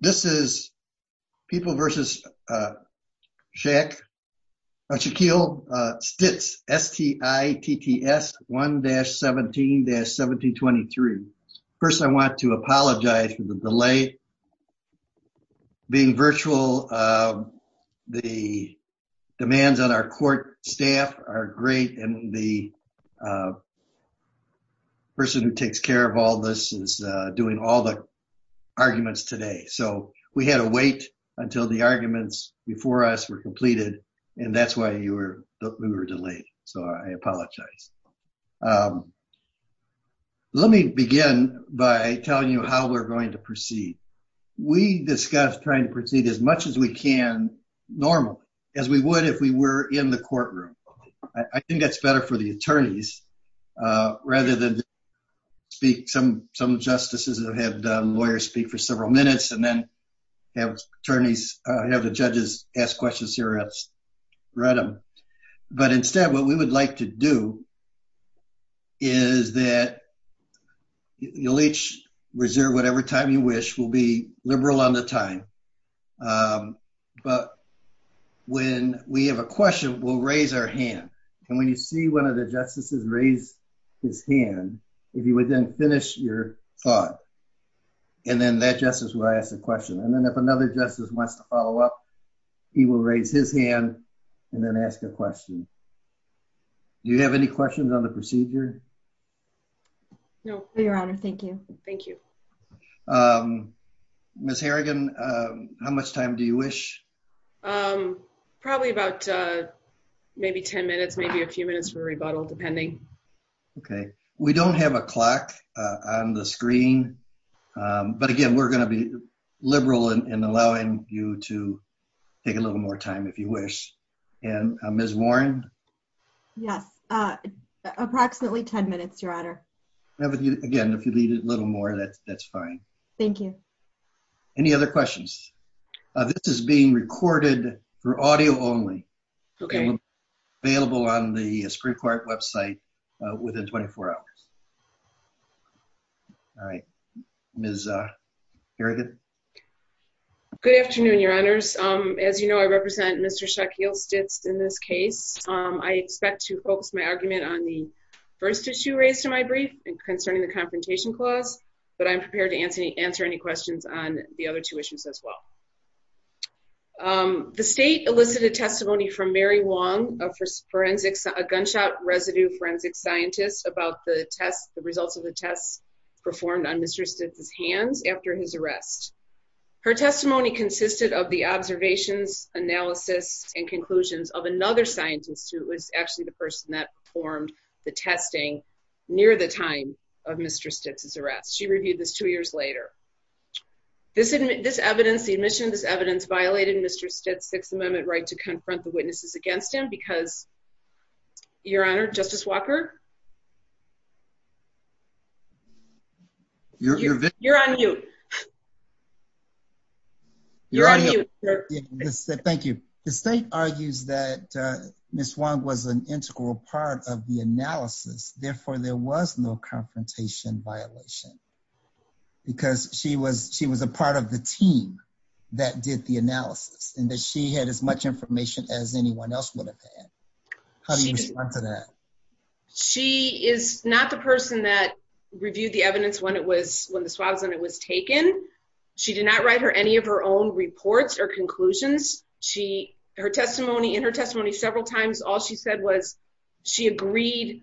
This is People v. Shaquille Stitts, S-T-I-T-T-S 1-17-1723. First, I want to apologize for the delay. Being virtual, the demands on our court staff are great, and the person who takes care of all this is doing all the arguments today. So we had to wait until the arguments before us were completed, and that's why we were delayed. So I apologize. Let me begin by telling you how we're going to proceed. We discussed trying to proceed as much as we can normally, as we would if we were in the courtroom. I think that's better for the attorneys rather than speak. Some justices have had lawyers speak for several minutes and then have the judges ask questions here at random. But instead, what we would like to do is that you'll each reserve whatever time you wish. We'll be liberal on the time. But when we have a question, we'll raise our hand. And when you see one of the justices raise his hand, if you would then finish your thought, and then that justice will ask a question. And then if another justice wants to follow up, he will raise his hand and then ask a question. Do you have any questions on the procedure? No, Your Honor. Thank you. Thank you. Ms. Harrigan, how much time do you wish? Probably about maybe 10 minutes, maybe a few minutes for rebuttal, depending. Okay. We don't have a clock on the screen. But, again, we're going to be liberal in allowing you to take a little more time, if you wish. And Ms. Warren? Yes. Approximately 10 minutes, Your Honor. Again, if you need a little more, that's fine. Thank you. Any other questions? This is being recorded for audio only. Okay. Available on the Supreme Court website within 24 hours. All right. Ms. Harrigan? Good afternoon, Your Honors. As you know, I represent Mr. Shaquille Stitts in this case. I expect to focus my argument on the first issue raised in my brief concerning the Confrontation Clause, but I'm prepared to answer any questions on the other two issues as well. The state elicited testimony from Mary Wong, a gunshot residue forensic scientist, about the results of the tests performed on Mr. Stitts' hands after his arrest. Her testimony consisted of the observations, analysis, and conclusions of another scientist who was actually the person that performed the testing near the time of Mr. Stitts' arrest. She reviewed this two years later. This evidence, the admission of this evidence, violated Mr. Stitts' Sixth Amendment right to confront the witnesses against him because, Your Honor, Justice Walker? You're on mute. You're on mute. Thank you. The state argues that Ms. Wong was an integral part of the analysis, therefore there was no confrontation violation because she was a part of the team that did the analysis and that she had as much information as anyone else would have had. How do you respond to that? She is not the person that reviewed the evidence when the swab was taken. She did not write any of her own reports or conclusions. Her testimony, in her testimony several times, all she said was she agreed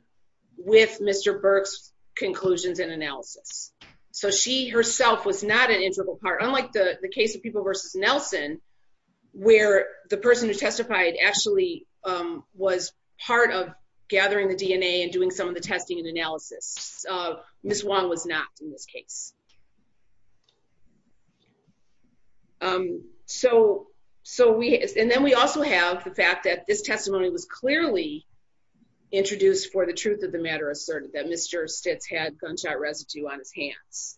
with Mr. Burke's conclusions and analysis. So she herself was not an integral part, unlike the case of People v. Nelson where the person who testified actually was part of gathering the DNA and doing some of the testing and analysis. Ms. Wong was not in this case. And then we also have the fact that this testimony was clearly introduced for the truth of the matter asserted, that Mr. Stitts had gunshot residue on his hands.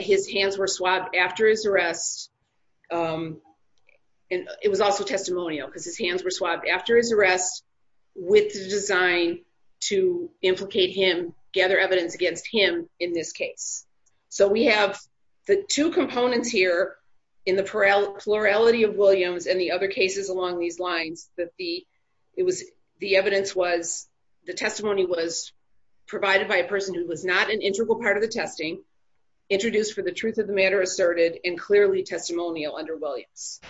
His hands were swabbed after his arrest and it was also testimonial because his testimony was provided by a person who was not an integral part of the testing, introduced for the truth of the matter asserted, and clearly testimonial under Williams.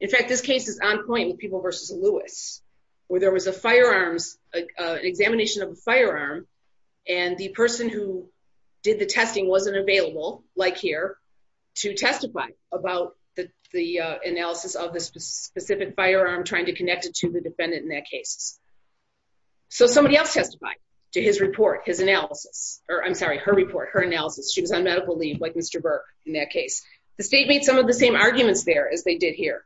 In fact, this case is on point with People v. Lewis where there was a firearms, and clearly testimonial under Williams. In fact, and the person who did the testing wasn't available, like here, to testify about the analysis of the specific firearm, trying to connect it to the defendant in that case. So somebody else testified to his report, his analysis, or I'm sorry, her report, her analysis. She was on medical leave like Mr. Burke in that case. The state made some of the same arguments there as they did here,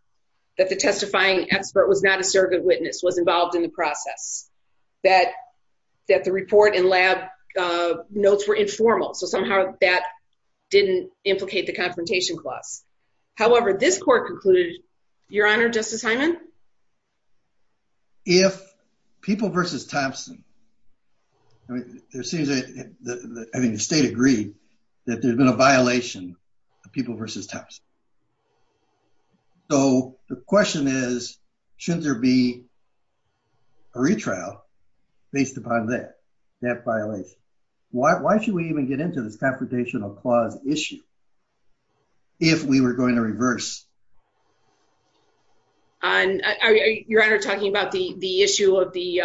that the testifying expert was not a surrogate witness, was involved in the process, that the report and lab notes were informal. So somehow that didn't implicate the confrontation clause. However, this court concluded, Your Honor, Justice Hyman? If People v. Thompson, I mean, there seems to be, I mean, the state agreed that there'd been a violation of People v. Thompson. So the question is, shouldn't there be a retrial based upon that, that violation? Why should we even get into this confrontational clause issue if we were going to reverse? Your Honor, talking about the, the issue of the,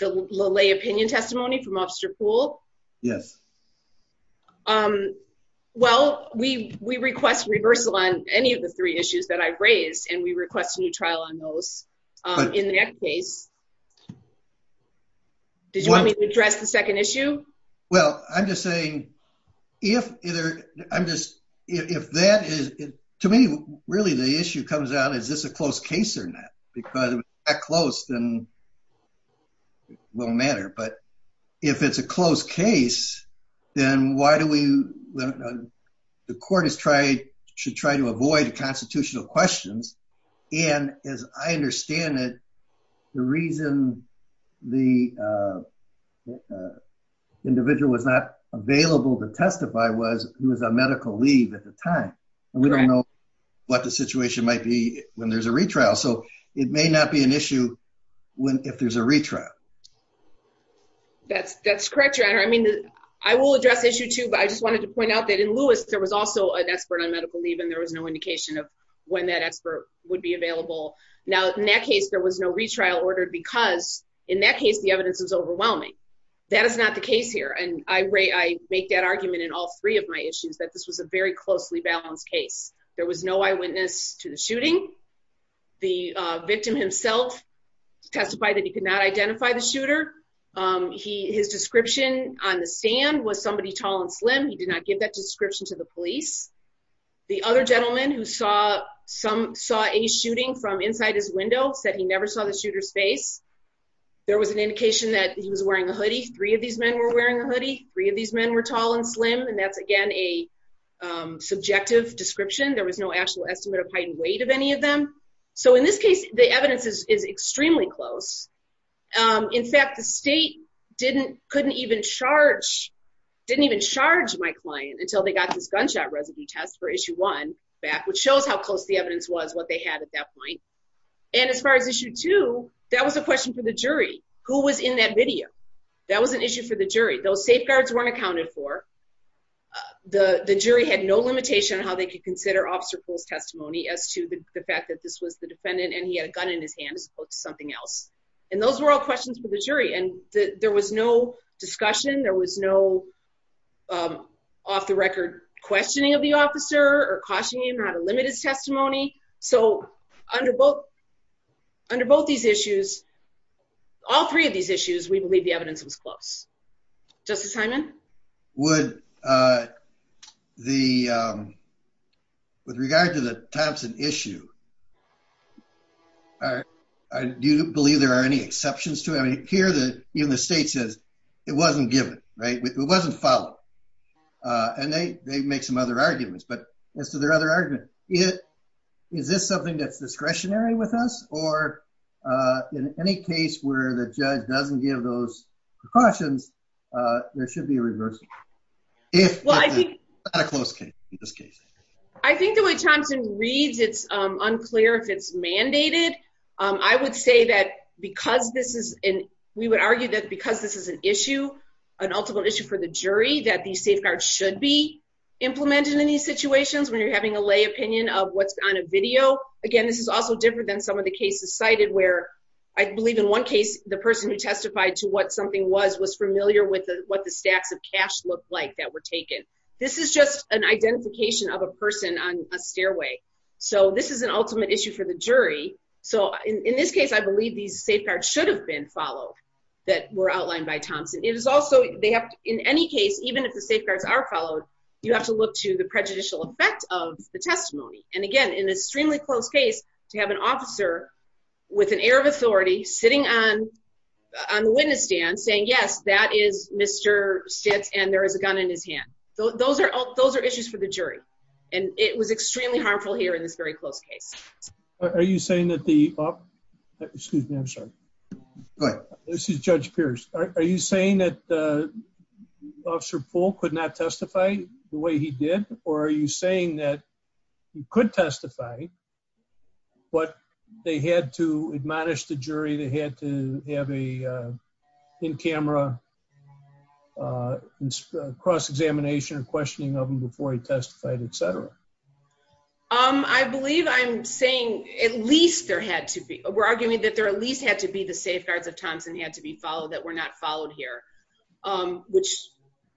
the lay opinion testimony from Officer Poole? Yes. Well, we, we request reversal on any of the three issues that I raised and we request a new trial on those in the next case. Did you want me to address the second issue? Well, I'm just saying, if either, I'm just, if that is, to me, really the issue comes down, is this a close case or not? Because if it's that close, then it won't matter. But if it's a close case, then why do we, the court has tried, should try to avoid constitutional questions. And as I understand it, the reason the individual was not available to testify was he was on medical leave at the time. And we don't know what the situation might be when there's a retrial. So it may not be an issue when, if there's a retrial. That's, that's correct, Your Honor. I mean, I will address issue two, but I just wanted to point out that in Lewis, there was also an expert on medical leave and there was no indication of when that expert would be available. Now, in that case, there was no retrial ordered because in that case, the evidence was overwhelming. That is not the case here. And I make that argument in all three of my issues, that this was a very closely balanced case. There was no eyewitness to the shooting. The victim himself testified that he could not identify the shooter. His description on the stand was somebody tall and slim. He did not give that description to the police. The other gentleman who saw some, saw a shooting from inside his window said he never saw the shooter's face. There was an indication that he was wearing a hoodie. Three of these men were wearing a hoodie. Three of these men were tall and slim. And that's again, a subjective description. There was no actual estimate of height and weight of any of them. So in this case, the evidence is extremely close. In fact, the state didn't, couldn't even charge, didn't even charge my client until they got this gunshot residue test for issue one back, which shows how close the evidence was, what they had at that point. And as far as issue two, that was a question for the jury, who was in that video. That was an issue for the jury. Those safeguards weren't accounted for. The jury had no limitation on how they could consider Officer Poole's testimony as to the fact that this was the defendant and he had a gun in his hand as opposed to something else. And those were all questions for the jury. And there was no discussion. There was no off the record questioning of the officer or cautioning him not to limit his testimony. So under both, under both these issues, all three of these issues, we believe the evidence was close. Justice Hyman? Would the, with regard to the Thompson issue, do you believe there are any exceptions to it? I mean, here, even the state says it wasn't given, right? It wasn't followed. And they, they make some other arguments, but as to their other argument, is this something that's discretionary with us or in any case where the judge doesn't give those precautions, there should be a reversal. Well, I think, not a close case in this case. I think the way Thompson reads it's unclear if it's mandated. I would say that because this is an, we would argue that because this is an issue, an ultimate issue for the jury, that these safeguards should be implemented in these situations when you're having a lay opinion of what's on a video. Again, this is also different than some of the cases cited where I believe in one case, the person who testified to what something was, was familiar with what the stacks of cash looked like that were taken. This is just an identification of a person on a stairway. So this is an ultimate issue for the jury. So in this case, I believe these safeguards should have been followed that were outlined by Thompson. It was also, they have, in any case, even if the safeguards are followed, you have to look to the prejudicial effect of the testimony. And again, in an extremely close case to have an officer with an air of authority sitting on, on the witness stand saying, yes, that is Mr. Stitz and there is a gun in his hand. So those are, those are issues for the jury. And it was extremely harmful here in this very close case. Are you saying that the, excuse me? I'm sorry. This is judge Pierce. Are you saying that the officer pool could not testify the way he did? Or are you saying that you could testify, but they had to admonish the jury. They had to have a in-camera cross-examination and questioning of them before he testified, et cetera. I believe I'm saying at least there had to be, we're arguing that there at least had to be the safeguards of Thompson had to be followed that were not followed here, which,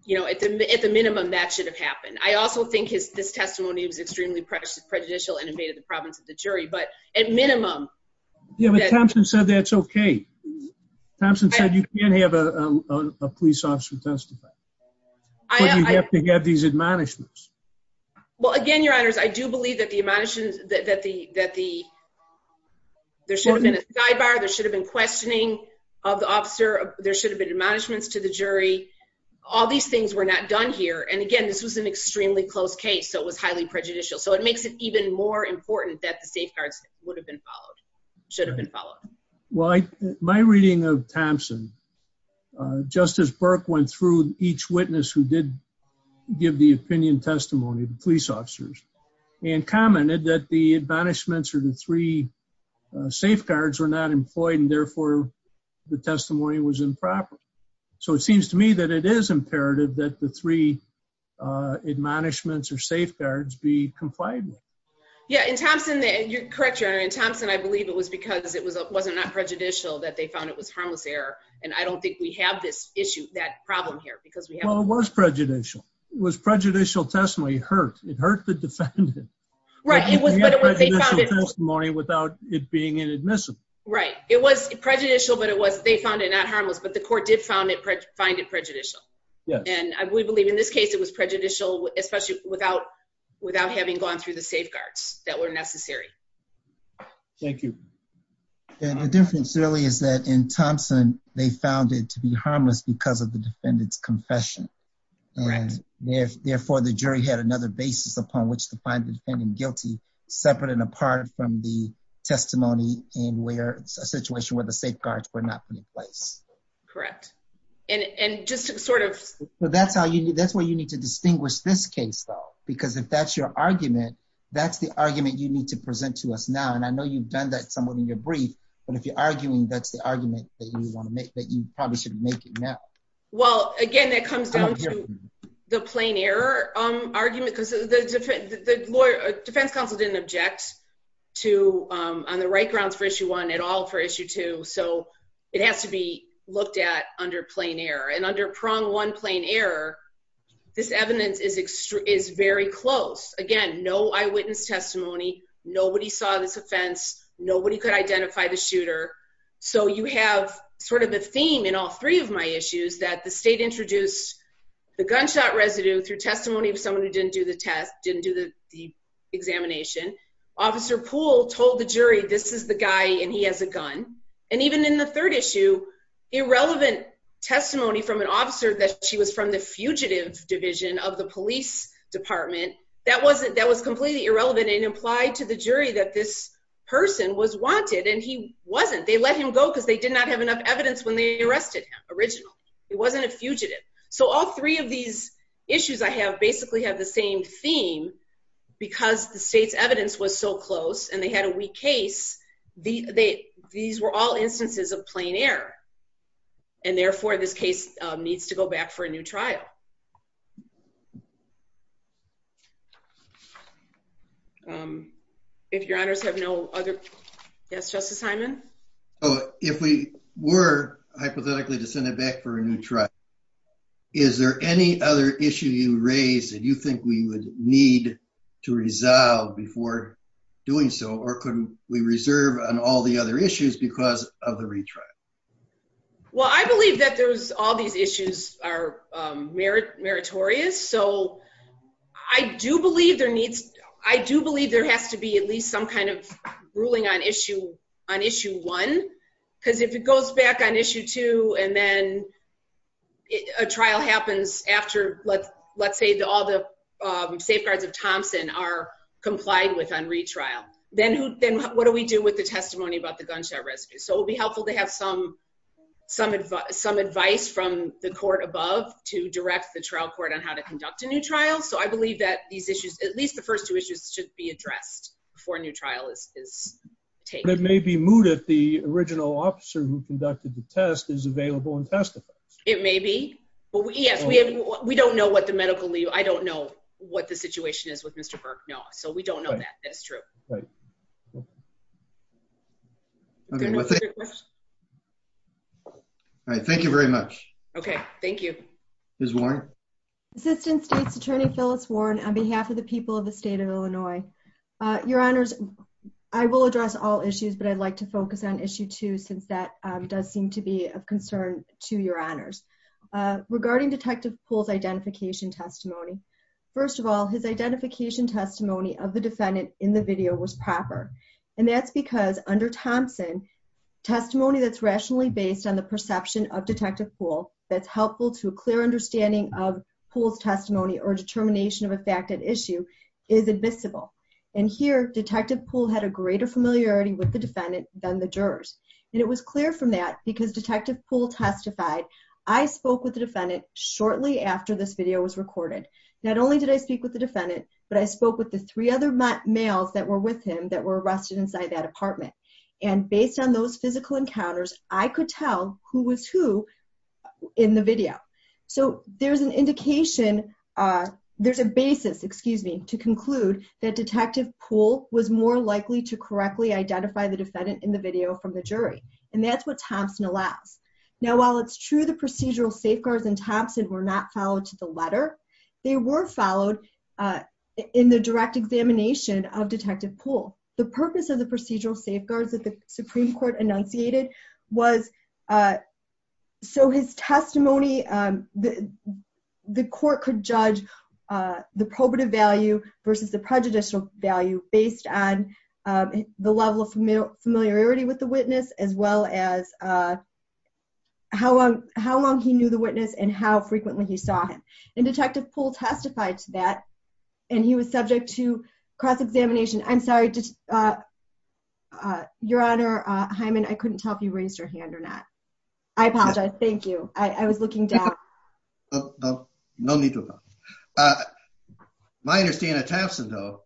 you know, at the, at the minimum that should have happened. I also think his, this testimony was extremely prejudicial and invaded the province of the jury, but at minimum. Yeah. But Thompson said, that's okay. Thompson said, you can't have a police officer testify. You have to get these admonishments. Well, again, your honors, I do believe that the admonishments that the, that the, there should have been a sidebar. There should have been questioning of the officer. There should have been admonishments to the jury. All these things were not done here. And again, this was an extremely close case. So it was highly prejudicial. So it makes it even more important that the safeguards would have been followed, should have been followed. Well, I, my reading of Thompson, just as Burke went through each witness who did give the opinion testimony to police officers and commented that the admonishments or the three safeguards were not employed and therefore the testimony was improper. So it seems to me that it is imperative that the three admonishments or the three safeguards should have been followed. Yeah. In Thompson, you're correct, your honor. In Thompson, I believe it was because it wasn't not prejudicial that they found it was harmless error. And I don't think we have this issue, that problem here. Well, it was prejudicial. It was prejudicial testimony. It hurt. It hurt the defendant. Right. It was prejudicial testimony without it being inadmissible. Right. It was prejudicial, but it was, they found it not harmless, but the court did find it prejudicial. And we believe in this case, it was prejudicial, especially without, without having gone through the safeguards that were necessary. Thank you. And the difference really is that in Thompson, they found it to be harmless because of the defendant's confession. Therefore the jury had another basis upon which to find the defendant guilty, separate and apart from the testimony. And where it's a situation where the safeguards were not put in place. Correct. And, and just to sort of, that's where you need to distinguish this case though, because if that's your argument, that's the argument you need to present to us now. And I know you've done that somewhat in your brief, but if you're arguing, that's the argument that you want to make that you probably should make it now. Well, again, that comes down to the plain error argument, because the defense counsel didn't object to, on the right grounds for issue one at all for issue two. So it has to be looked at under plain error and under prong one plain error. This evidence is extreme, is very close. Again, no eyewitness testimony. Nobody saw this offense. Nobody could identify the shooter. So you have sort of a theme in all three of my issues that the state introduced the gunshot residue through testimony of someone who didn't do the test, didn't do the examination officer pool told the jury, this is the guy and he has a gun. And even in the third issue, irrelevant testimony from an officer that she was from the fugitive division of the police department. That wasn't, that was completely irrelevant and implied to the jury that this person was wanted. And he wasn't, they let him go because they did not have enough evidence when they arrested him original. It wasn't a fugitive. So all three of these issues I have basically have the same theme because the case, the, they, these were all instances of plain air. And therefore this case needs to go back for a new trial. Um, if your honors have no other, yes, justice Simon. Oh, if we were hypothetically to send it back for a new truck, is there any other issue you raised that you think we would need to resolve before doing so? Or couldn't we reserve on all the other issues because of the retrial? Well, I believe that there's all these issues are merit meritorious. So I do believe there needs, I do believe there has to be at least some kind of ruling on issue on issue one, because if it goes back on issue two, and then a trial happens after let's, let's say all the safeguards of Thompson are complied with on retrial, then who, then what do we do with the testimony about the gunshot rescue? So it would be helpful to have some, some advice, some advice from the court above to direct the trial court on how to conduct a new trial. So I believe that these issues, at least the first two issues should be addressed before a new trial is, is taken. It may be moot if the original officer who conducted the test is available and testifies. It may be, but we, yes, we have, we don't know what the medical leave. I don't know what the situation is with Mr. Burke. No. So we don't know that. That's true. All right. Thank you very much. Okay. Thank you. Assistant state's attorney, Phyllis Warren, on behalf of the people of the state of Illinois, your honors, I will address all issues, but I'd like to focus on issue two, since that does seem to be of concern to your honors regarding detective pool's identification testimony. First of all, his identification testimony of the defendant in the video was proper. And that's because under Thompson testimony, that's rationally based on the perception of detective pool. That's helpful to a clear understanding of pool's testimony or determination of a fact at issue is admissible. And here, detective pool had a greater familiarity with the defendant than the jurors. And it was clear from that because detective pool testified, I spoke with the defendant shortly after this video was recorded. Not only did I speak with the defendant, but I spoke with the three other males that were with him that were arrested inside that apartment. And based on those physical encounters, I could tell who was who in the video. So there's an indication. There's a basis, excuse me, to conclude that detective pool was more likely to correctly identify the jury. And that's what Thompson allows. Now, while it's true, the procedural safeguards and Thompson were not followed to the letter. They were followed in the direct examination of detective pool. The purpose of the procedural safeguards that the Supreme court enunciated was so his testimony, the court could judge the probative value versus the prejudicial value based on the level of familiar familiarity with the witness, as well as, how long, how long he knew the witness and how frequently he saw him and detective pool testified to that. And he was subject to cross-examination. I'm sorry to your honor Hyman. I couldn't tell if you raised your hand or not. I apologize. Thank you. I was looking down. No need to, uh, my understanding Thompson though,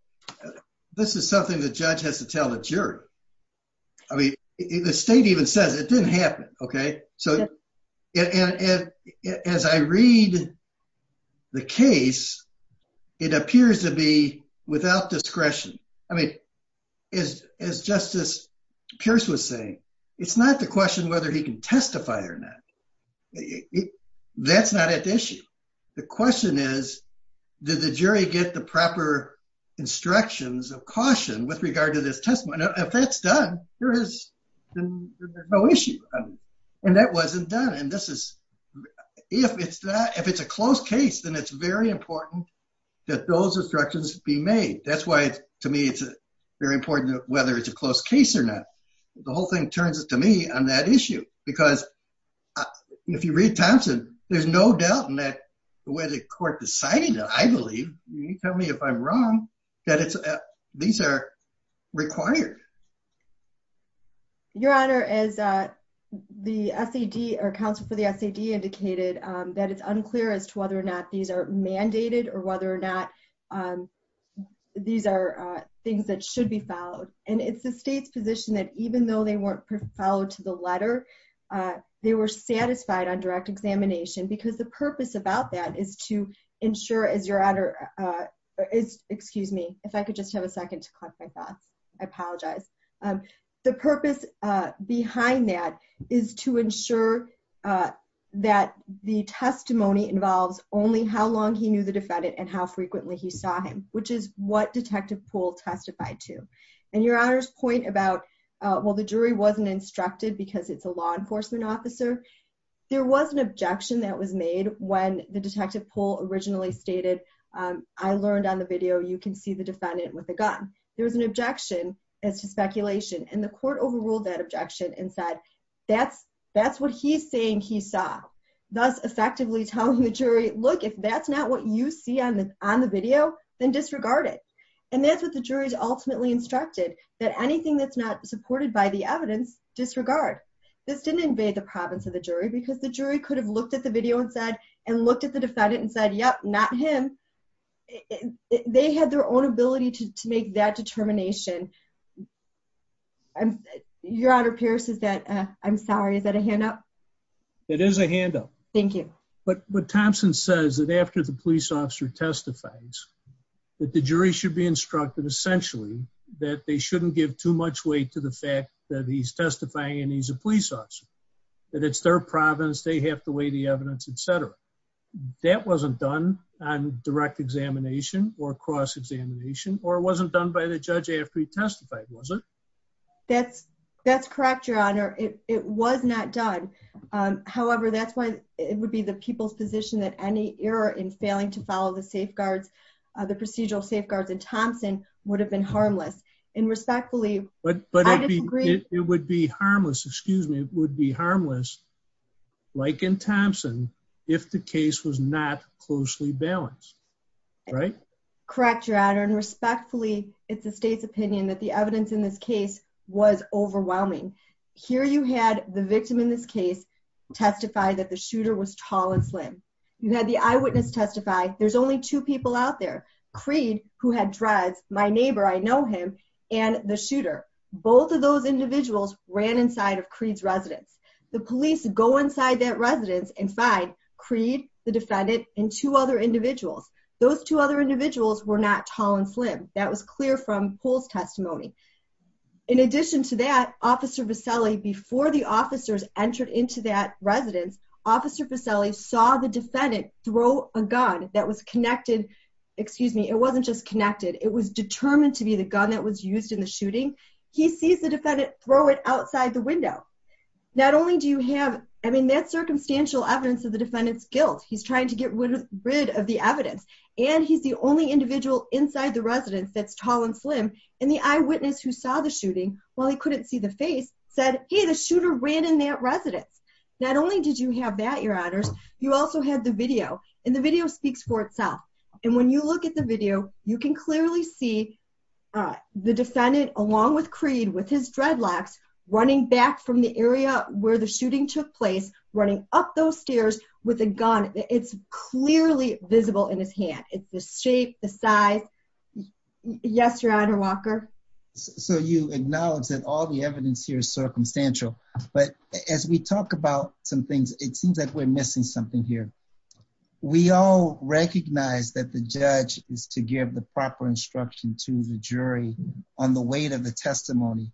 this is something that judge has to tell the jury. I mean, the state even says it didn't happen. Okay. So as I read the case, it appears to be without discretion. I mean, is, as justice Pierce was saying, it's not the question whether he can testify or not. That's not an issue. The question is did the jury get the proper instructions of caution with regard to this testimony? If that's done, there is no issue. And that wasn't done. And this is, if it's not, if it's a close case, then it's very important that those instructions be made. That's why to me it's very important whether it's a close case or not. The whole thing turns it to me on that issue, because if you read Thompson, there's no doubt in that, the way the court decided, I believe, you tell me if I'm wrong, that it's, these are required. Your honor is, uh, the SED or counsel for the SED indicated, um, that it's unclear as to whether or not these are mandated or whether or not, um, these are, uh, things that should be filed. Um, and it's the state's position that even though they weren't preferred to the letter, uh, they were satisfied on direct examination because the purpose about that is to ensure as your honor, uh, is excuse me, if I could just have a second to collect my thoughts, I apologize. Um, the purpose, uh, behind that is to ensure, uh, that the testimony involves only how long he knew the defendant and how frequently he saw him, which is what detective pool testified to. And your honor's point about, uh, well, the jury wasn't instructed because it's a law enforcement officer. There was an objection that was made when the detective pool originally stated, um, I learned on the video, you can see the defendant with a gun. There was an objection as to speculation. And the court overruled that objection and said, that's, that's what he's saying. He saw thus effectively telling the jury, look, if that's not what you see on the, on the video, then disregard it. And that's what the jury's ultimately instructed that anything that's not supported by the evidence disregard. This didn't invade the province of the jury because the jury could have looked at the video and said, and looked at the defendant and said, yep, not him. They had their own ability to make that determination. Your honor Pierce is that, uh, I'm sorry. Is that a handout? It is a handout. Thank you. But Thompson says that after the police officer testifies that the jury should be instructed essentially that they shouldn't give too much weight to the fact that he's testifying and he's a police officer, that it's their province. They have to weigh the evidence, et cetera. That wasn't done on direct examination or cross examination, or it wasn't done by the judge after he testified. Was it? That's correct. Your honor. It was not done. Um, however, that's why it would be the people's position that any error in failing to follow the safeguards, uh, the procedural safeguards and Thompson would have been harmless and respectfully. But it would be harmless. Excuse me. It would be harmless. Like in Thompson, if the case was not closely balanced, right? Correct. Your honor. And respectfully, it's the state's opinion that the evidence in this case was overwhelming here. You had the victim in this case testify that the shooter was tall and slim. You had the eyewitness testify. There's only two people out there Creed who had dreads my neighbor. I know him and the shooter. Both of those individuals ran inside of Creed's residence. The police go inside that residence and find Creed, the defendant and two other individuals. Those two other individuals were not tall and slim. That was clear from polls testimony. In addition to that, officer Vaselli, before the officers entered into that residence, officer Vaselli saw the defendant throw a gun that was connected. Excuse me. It wasn't just connected. It was determined to be the gun that was used in the shooting. He sees the defendant throw it outside the window. Not only do you have, I mean, that's circumstantial evidence of the defendant's guilt. He's trying to get rid of the evidence and he's the only individual inside the residence that's tall and slim and the eyewitness who saw the shooting while he couldn't see the face said, Hey, the shooter ran in that residence. Not only did you have that your honors, you also had the video and the video speaks for itself. And when you look at the video, you can clearly see, uh, the defendant along with Creed with his dreadlocks running back from the area where the shooting took place, running up those stairs with a gun. It's clearly visible in his hand. It's the shape, the size. Yes, your honor Walker. So you acknowledge that all the evidence here is circumstantial, but as we talk about some things, it seems like we're missing something here. We all recognize that the judge is to give the proper instruction to the jury on the weight of the testimony,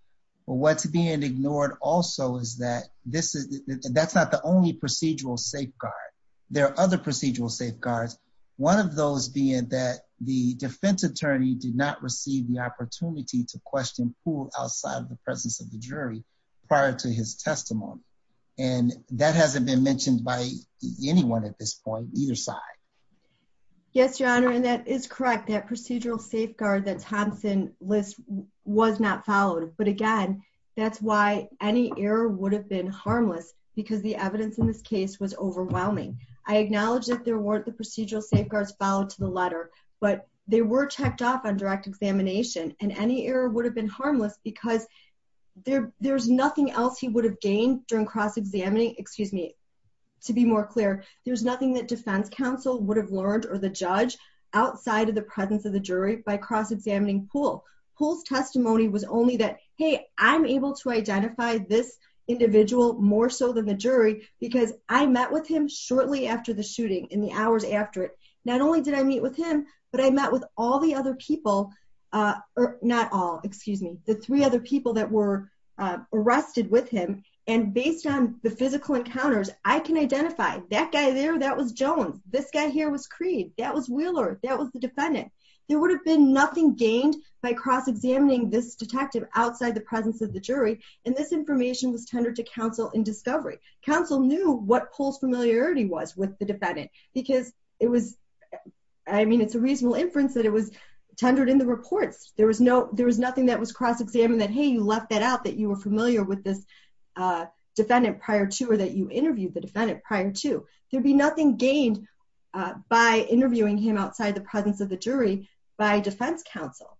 but what's being ignored also is that this is that's not the only procedural safeguard. There are other procedural safeguards. One of those being that the defense attorney did not receive the opportunity to provide his testimony. And that hasn't been mentioned by anyone at this point, either side. Yes, your honor. And that is correct. That procedural safeguard that Thompson list was not followed. But again, that's why any error would have been harmless because the evidence in this case was overwhelming. I acknowledge that there weren't the procedural safeguards followed to the letter, but they were checked off on direct examination. And any error would have been harmless because there there's nothing else he would have gained during cross-examining, excuse me. To be more clear, there's nothing that defense counsel would have learned or the judge outside of the presence of the jury by cross-examining Poole. Poole's testimony was only that, Hey, I'm able to identify this individual more so than the jury, because I met with him shortly after the shooting in the hours after it, not only did I meet with him, but I met with all the other people, not all, excuse me, the three other people that were arrested with him. And based on the physical encounters, I can identify that guy there. That was Jones. This guy here was Creed. That was Wheeler. That was the defendant. There would have been nothing gained by cross-examining this detective outside the presence of the jury. And this information was tendered to counsel in discovery council knew what Poole's familiarity was with the defendant, because it was, I mean, it's a reasonable inference that it was tendered in the reports. There was no, there was nothing that was cross-examined that, Hey, you left that out, that you were familiar with this defendant prior to, or that you interviewed the defendant prior to there'd be nothing gained by interviewing him outside the presence of the jury by defense counsel.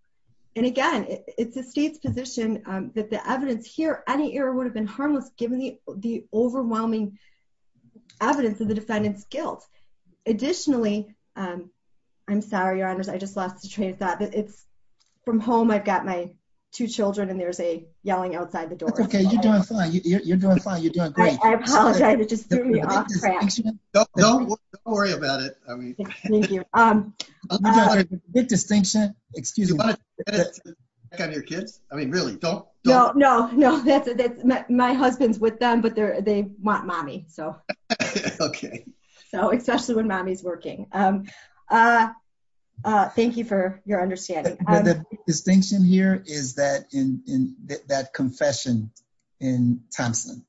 And again, it's a state's position that the evidence here, any error would have been harmless given the overwhelming evidence of the defendant's guilt. Additionally, I'm sorry, your honors. I just lost the train of thought that it's from home. I've got my two children and there's a yelling outside the door. Okay. You're doing fine. You're doing fine. You're doing great. I apologize. It just threw me off track. Don't worry about it. I mean, big distinction, excuse me. On your kids. I mean, really don't. No, no, no. That's my husband's with them, but they're, they want mommy. So, especially when mommy's working. Thank you for your understanding. Distinction here is that in that confession in Thompson,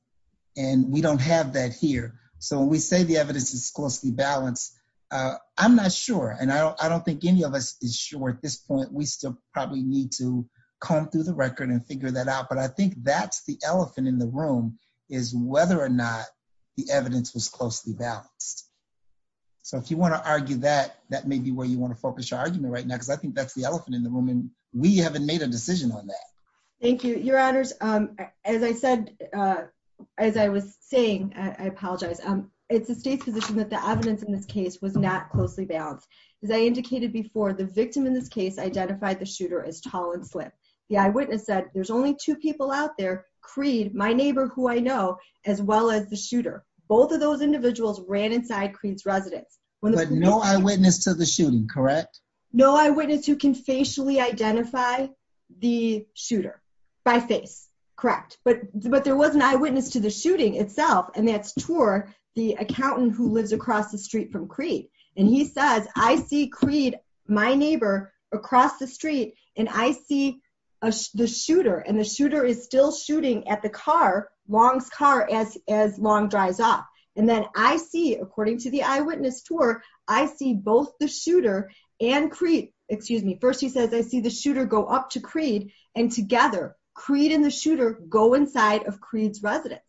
and we don't have that here. So we say the evidence is closely balanced. I'm not sure. And I don't, I don't think any of us is sure at this point, we still probably need to come through the record and figure that out. But I think that's the elephant in the room is whether or not the evidence was closely balanced. So if you want to argue that, that may be where you want to focus your argument right now, because I think that's the elephant in the room. And we haven't made a decision on that. Thank you, your honors. As I said, as I was saying, I apologize. It's the state's position that the evidence in this case was not closely balanced. As I indicated before the victim in this case, identified the shooter as tall and slip. The eyewitness said, there's only two people out there, Creed, my neighbor, who I know, as well as the shooter. Both of those individuals ran inside Creed's residence. But no eyewitness to the shooting, correct? No eyewitness who can facially identify the shooter by face. Correct. But, but there was an eyewitness to the shooting itself. And that's tour the accountant who lives across the street from Creed. And he says, I see Creed, my neighbor across the street and I see the shooter and the shooter is still shooting at the car. Long's car as, as long dries off. And then I see according to the eyewitness tour, I see both the shooter and Creed, excuse me. First, he says I see the shooter go up to Creed and together Creed and the shooter go inside of Creed's residence.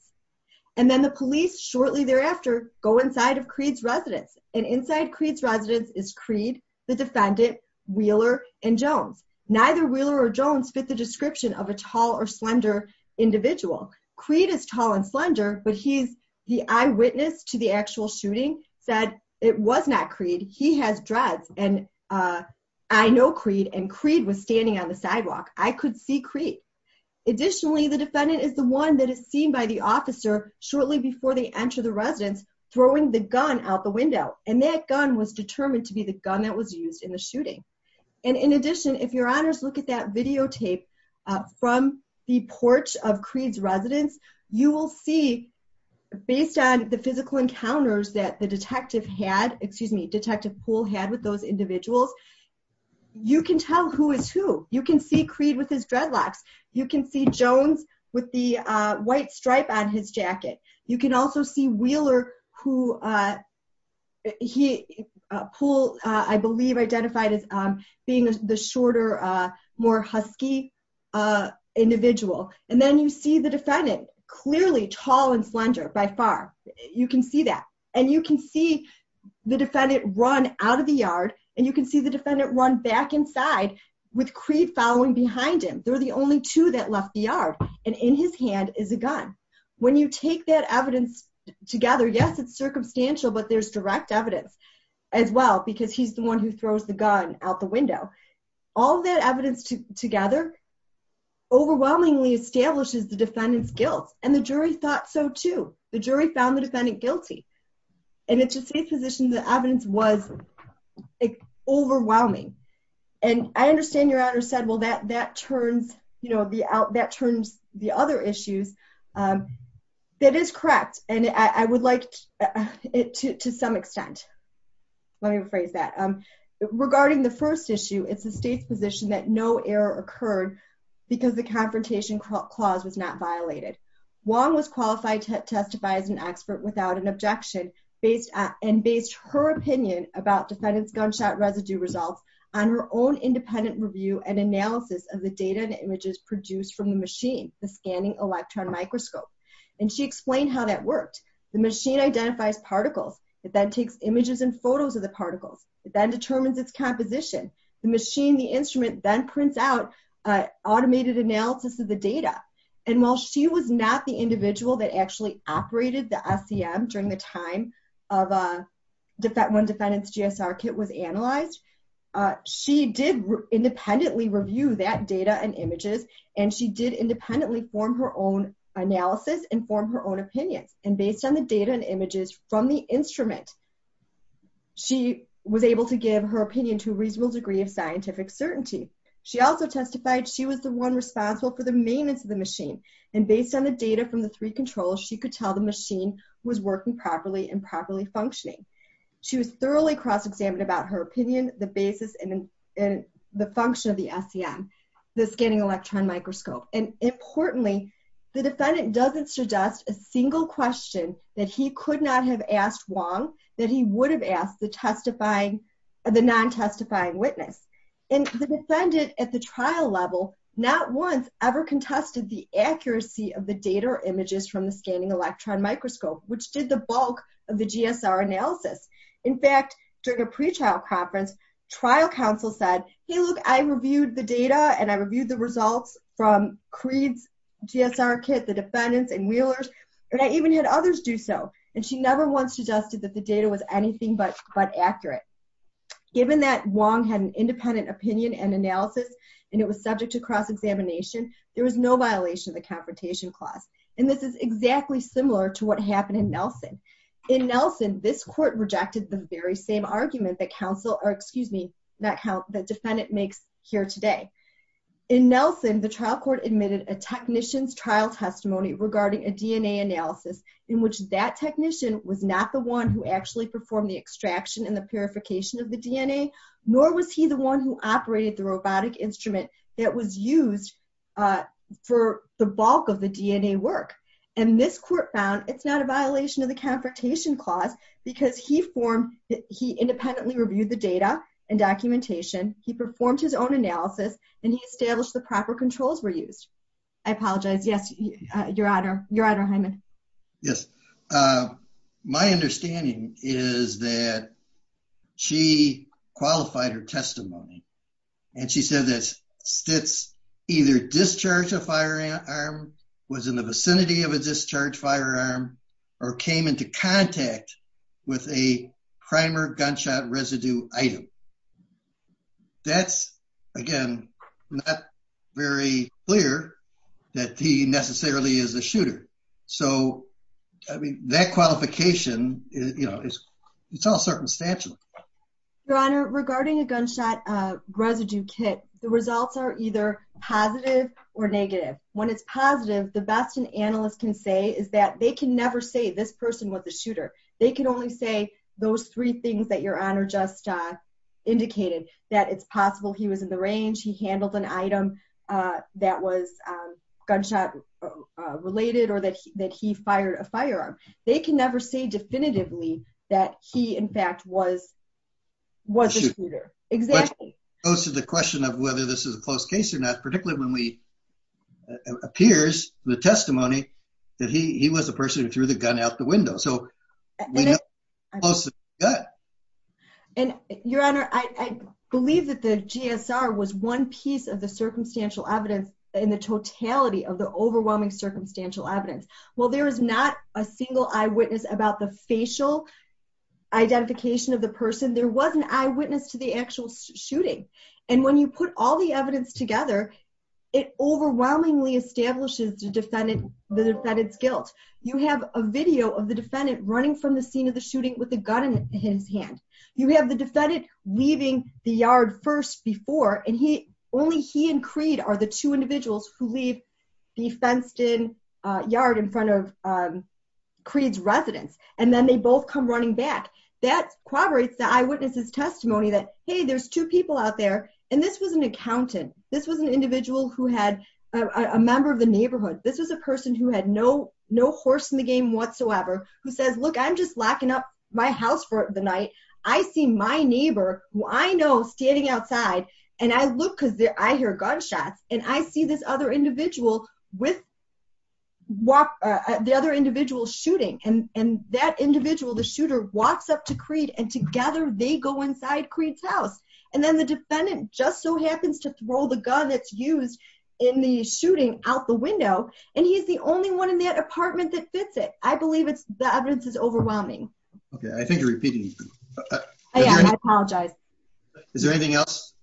And then the police shortly thereafter, go inside of Creed's residence. And inside Creed's residence is Creed, the defendant, Wheeler and Jones. Neither Wheeler or Jones fit the description of a tall or slender individual. Creed is tall and slender, but he's the eyewitness to the actual shooting said it was not Creed. He has dreads. And I know Creed and Creed was standing on the sidewalk. I could see Creed. Additionally, the defendant is the one that is seen by the officer shortly before they enter the residence, throwing the gun out the window. And that gun was determined to be the gun that was used in the shooting. And in addition, if your honors look at that videotape from the porch of Creed's residence, you will see based on the physical encounters that the detective had, excuse me, detective pool had with those individuals. You can tell who is who you can see Creed with his dreadlocks. You can see Jones with the white stripe on his jacket. You can also see Wheeler who he pull, I believe identified as being the shorter, more Husky individual. And then you see the defendant clearly tall and slender by far. You can see that and you can see the defendant run out of the yard and you can see the defendant run back inside with Creed following behind him. They're the only two that left the yard and in his hand is a gun. When you take that evidence together, yes, it's circumstantial, but there's direct evidence as well, because he's the one who throws the gun out the window. All that evidence together overwhelmingly establishes the defendant's guilt. And the jury thought so too. The jury found the defendant guilty. And it's a safe position. The evidence was overwhelming. And I understand your honor said, well, that, that turns, you know, the out that turns the other issues that is correct. And I would like it to, to some extent, let me rephrase that. Regarding the first issue, it's the state's position that no error occurred because the confrontation clause was not violated. Wong was qualified to testify as an expert without an objection based and based her opinion about defendant's gunshot residue results on her own independent review and analysis of the data and images produced from the machine, the scanning electron microscope. And she explained how that worked. The machine identifies particles. It then takes images and photos of the particles. It then determines its composition, the machine, the instrument then prints out a automated analysis of the data. And while she was not the individual that actually operated the SEM during the time of a defect, one defendant's GSR kit was analyzed. She did independently review that data and images. And she did independently form her own analysis and form her own opinions. And based on the data and images from the instrument, she was able to give her opinion to a reasonable degree of scientific certainty. She also testified she was the one responsible for the maintenance of the machine and based on the data from the three controls, she could tell the machine was working properly and properly functioning. She was thoroughly cross-examined about her opinion, the basis and the function of the SEM, the scanning electron microscope. And importantly, the defendant doesn't suggest a single question that he could not have asked Wong that he would have asked the testifying or the non-testifying witness. And the defendant at the trial level, not once ever contested the accuracy of the data or images from the scanning electron microscope, which did the bulk of the GSR analysis. In fact, during a pretrial conference, trial counsel said, Hey, look, I reviewed the data and I reviewed the results from Creed's GSR kit, the defendants and wheelers, and I even had others do so. And she never once suggested that the data was anything but accurate. Given that Wong had an independent opinion and analysis, and it was subject to cross-examination, there was no violation of the confrontation clause. And this is exactly similar to what happened in Nelson. In Nelson, this court rejected the very same argument that counsel or excuse me, that defendant makes here today. In Nelson, the trial court admitted a technician's trial testimony regarding a DNA analysis in which that technician was not the one who actually performed the extraction and the purification of the DNA, nor was he the one who operated the robotic instrument that was used for the bulk of the DNA work. And this court found, it's not a violation of the confrontation clause because he independently reviewed the data and documentation. He performed his own analysis and he established the proper controls were used. I apologize. Yes, your honor, your honor. Hyman. Yes. My understanding is that she qualified her testimony and she said that Stitz either discharged a firearm, was in the vicinity of a discharge firearm or came into contact with a gunshot residue item. That's again, not very clear that he necessarily is a shooter. So I mean that qualification is, you know, it's all circumstantial. Your honor, regarding a gunshot residue kit, the results are either positive or negative. When it's positive, the best an analyst can say is that they can never say this person was a shooter. And I think that's what your honor just indicated that it's possible. He was in the range. He handled an item that was gunshot related or that, that he fired a firearm. They can never say definitively that he in fact was, was a shooter. Exactly. Goes to the question of whether this is a close case or not, particularly when we appears the testimony that he was a person who threw the gun out the window. So. Your honor, I believe that the GSR was one piece of the circumstantial evidence in the totality of the overwhelming circumstantial evidence. Well, there is not a single eyewitness about the facial identification of the person. There wasn't eyewitness to the actual shooting. And when you put all the evidence together, it overwhelmingly establishes the defendant, the defendant's guilt. You have a video of the defendant running from the scene of the shooting with the gun in his hand. You have the defendant leaving the yard first before, and he, only he and Creed are the two individuals who leave the fenced in yard in front of. Creed's residence. And then they both come running back. That corroborates the eyewitnesses testimony that, Hey, there's two people out there. And this was an accountant. This was an individual who had a member of the neighborhood. This was a person who had no, no horse in the game whatsoever, who says, look, I'm just locking up my house for the night. I see my neighbor who I know standing outside. And I look, cause I hear gunshots and I see this other individual with. Walk the other individual shooting. And, and that individual, the shooter walks up to create and together they go inside Creed's house. And then the defendant just so happens to throw the gun that's used in the shooting out the window. And he's the only one in that apartment that fits it. I believe it's the evidence is overwhelming. Okay. I think you're repeating. I apologize. Is there anything else?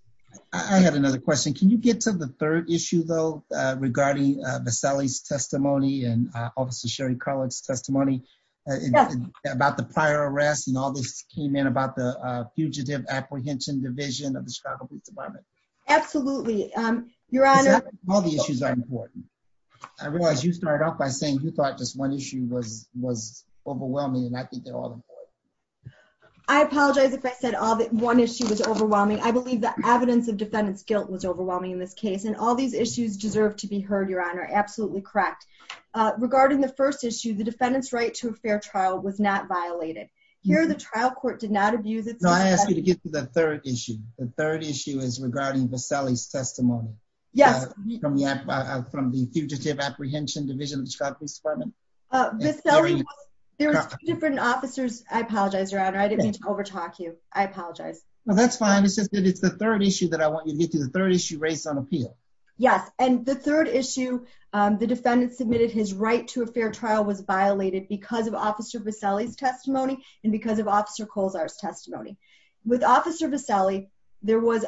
I have another question. Can you get to the third issue though? Regarding Vasili's testimony and officer Sherry college testimony. About the prior arrest and all this came in about the fugitive apprehension division of the Chicago police department. Absolutely. Your honor. All the issues are important. I realized you started off by saying you thought just one issue was, was overwhelming. And I think they're all important. I apologize if I said all that one issue was overwhelming. I believe the evidence of defendant's guilt was overwhelming in this case and all these issues deserve to be heard. Your honor. Absolutely. Correct. Regarding the first issue, the defendant's right to a fair trial was not violated here. The trial court did not abuse it. No, I asked you to get to the third issue. The third issue is regarding Vasili's testimony. Yes. From the fugitive apprehension division of the Chicago police department. There's different officers. I apologize, your honor. I didn't mean to overtalk you. I apologize. Well, that's fine. It's just that it's the third issue that I want you to get to the third issue race on appeal. Yes. And the third issue, the defendant submitted his right to a fair trial was violated because of a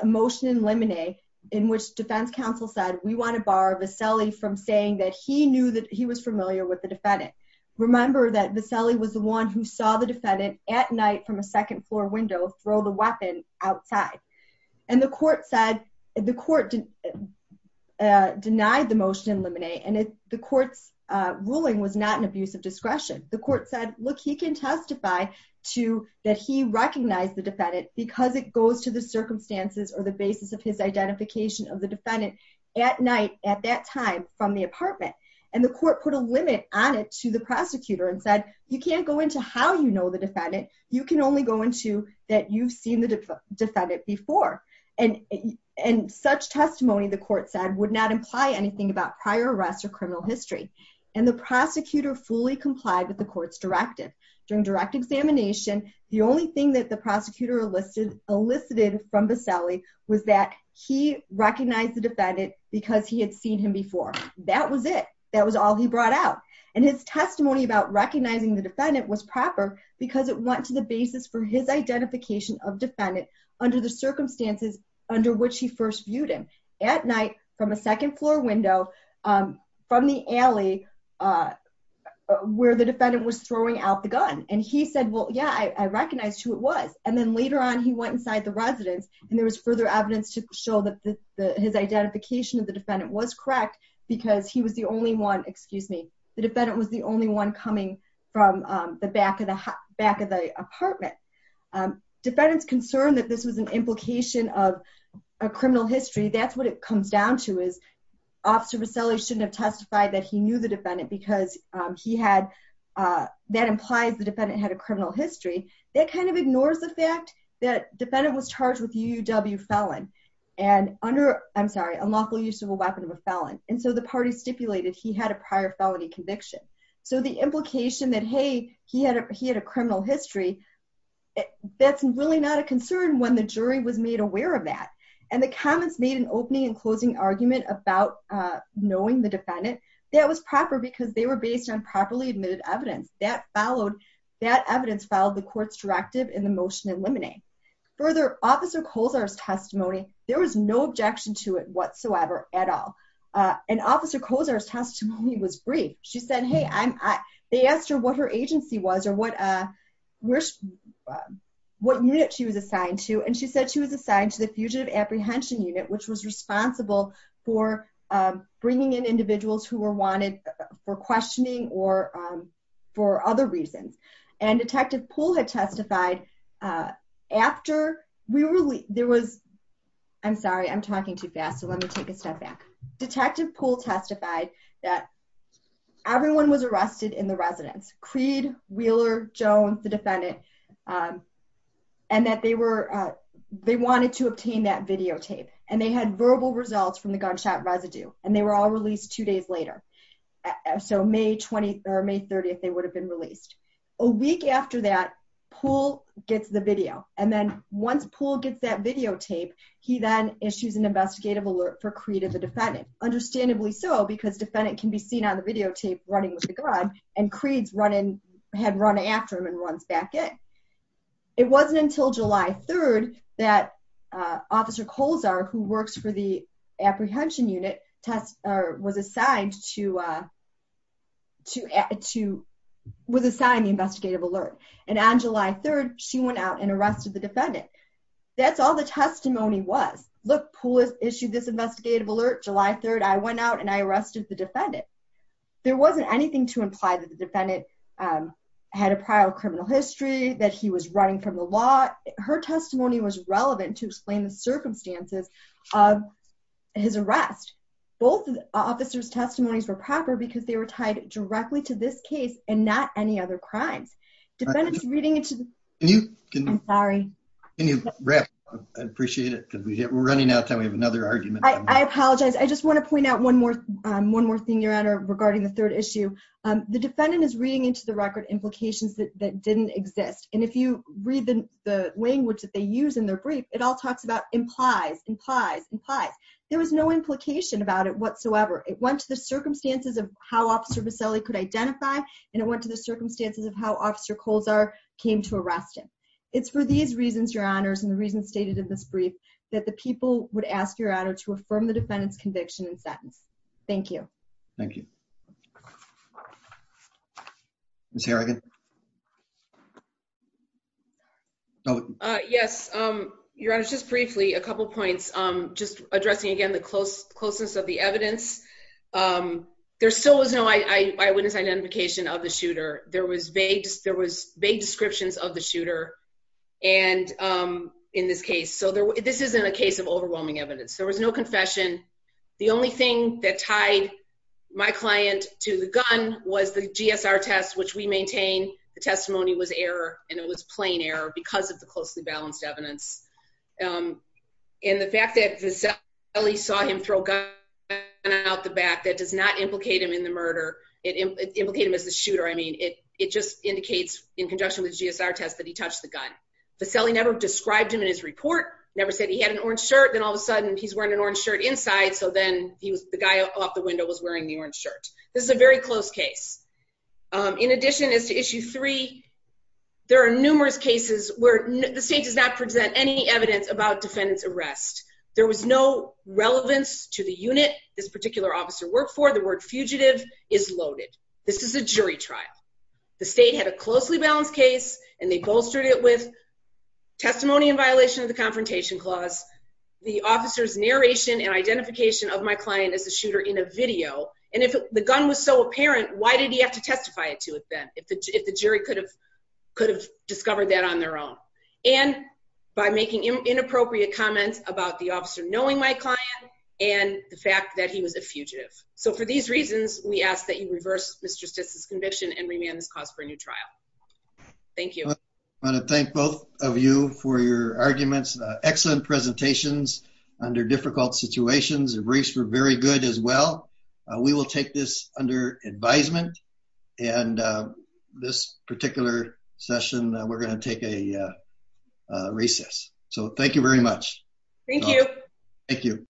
motion in limine in which defense counsel said, we want to bar Vasili from saying that he knew that he was familiar with the defendant. Remember that Vasili was the one who saw the defendant at night from a second floor window, throw the weapon outside. And the court said the court. Denied the motion in limine. And if the court's ruling was not an abuse of discretion, the court said, look, he can testify. That he recognized the defendant because it goes to the circumstances or the basis of his identification of the defendant at night at that time from the apartment. And the court put a limit on it to the prosecutor and said, you can't go into how you know, the defendant, you can only go into that you've seen the defendant before. And, and such testimony, the court said would not imply anything about prior arrests or criminal history. And the prosecutor fully complied with the court's directive during direct examination. The only thing that the prosecutor listed elicited from Vasili was that he recognized the defendant because he had seen him before. That was it. That was all he brought out and his testimony about recognizing the defendant was proper because it went to the basis for his identification of defendant. Under the circumstances under which he first viewed him at night from a second floor window from the alley where the defendant was throwing out the trash. He said, well, yeah, I recognized who it was. And then later on, he went inside the residence. And there was further evidence to show that the, his identification of the defendant was correct because he was the only one, excuse me, the defendant was the only one coming from the back of the back of the apartment. Defendants concerned that this was an implication of a criminal history. That's what it comes down to is. Officer Vasili shouldn't have testified that he knew the defendant because he had, that implies the defendant had a criminal history. That kind of ignores the fact that defendant was charged with UW felon and under, I'm sorry, unlawful use of a weapon of a felon. And so the party stipulated he had a prior felony conviction. So the implication that, Hey, he had a, he had a criminal history. That's really not a concern when the jury was made aware of that. And the comments made an opening and closing argument about knowing the defendant, I don't think he was publicly or openly admitted evidence that followed that evidence filed the court's directive in the motion, eliminating further. Officer Colas, our testimony, there was no objection to it whatsoever at all. And officer Cosa testimony was brief. She said, Hey, I'm, I, they asked her what her agency was or what. What unit she was assigned to. And she said she was assigned to the fugitive apprehension unit, which was responsible for bringing in individuals who were wanted for questioning or for other reasons. And detective pool had testified after we were, there was, I'm sorry, I'm talking too fast. So let me take a step back. Detective pool testified that everyone was arrested in the residence. Creed Wheeler Jones, the defendant, and that they were, they wanted to obtain that videotape and they had verbal results from the gunshot residue and they were all released two days later. So may 20th or may 30th, they would have been released a week after that pool gets the video. And then once pool gets that videotape, he then issues an investigative alert for creative, the defendant, understandably so because defendant can be seen on the videotape running with the gun and creeds run in, had run after him and runs back in. It wasn't until July 3rd that officer Coles are, who works for the apprehension unit test or was assigned to, to, to was assigned the investigative alert. And on July 3rd, she went out and arrested the defendant. That's all the testimony was. Look, pool has issued this investigative alert, July 3rd, I went out and I arrested the defendant. There wasn't anything to imply that the defendant had a prior criminal history that he was running from the law. Her testimony was relevant to explain the circumstances of his arrest. Both officers testimonies were proper because they were tied directly to this case and not any other crimes. Defendants reading it to you. I'm sorry. I appreciate it because we hit, we're running out of time. We have another argument. I apologize. I just want to point out one more, one more thing you're at or regarding the third issue. The defendant is reading into the record implications that didn't exist. And if you read the language that they use in their brief, it all talks about implies, implies, implies. There was no implication about it whatsoever. It went to the circumstances of how officer Vaselli could identify. And it went to the circumstances of how officer Coles are came to arrest him. It's for these reasons, your honors. And the reason stated in this brief that the people would ask your honor to affirm the defendant's conviction and sentence. Thank you. Thank you. Ms. Harrigan. Yes. Your honor, just briefly, a couple of points. I'm just addressing again, the close closeness of the evidence. There still was no eyewitness identification of the shooter. There was vague, there was vague descriptions of the shooter. And in this case, so there, this isn't a case of overwhelming evidence. There was no confession. The only thing that tied my client to the gun was the GSR test, which we maintain the testimony was error. And it was plain error because of the closely balanced evidence. And the fact that Vaselli saw him throw gun out the back, that does not implicate him in the murder. It implicate him as the shooter. I mean, it, it just indicates in conjunction with GSR test that he touched the gun. Vaselli never described him in his report. Never said he had an orange shirt. Then all of a sudden he's wearing an orange shirt inside. So then he was the guy off the window was wearing the orange shirt. This is a very close case. In addition is to issue three. There are numerous cases where the state does not present any evidence about defendants arrest. There was no relevance to the unit. This particular officer worked for the word fugitive is loaded. This is a jury trial. The state had a closely balanced case and they bolstered it with testimony in addition to the confrontation clause, the officer's narration and identification of my client as a shooter in a video. And if the gun was so apparent, why did he have to testify to it then if the, if the jury could have, could have discovered that on their own and by making inappropriate comments about the officer, knowing my client and the fact that he was a fugitive. So for these reasons, we ask that you reverse Mr. Stitz's conviction and remand this cause for a new trial. Thank you. I want to thank both of you for your arguments, excellent presentations under difficult situations and briefs were very good as well. We will take this under advisement and this particular session that we're going to take a recess. So thank you very much. Thank you. Thank you.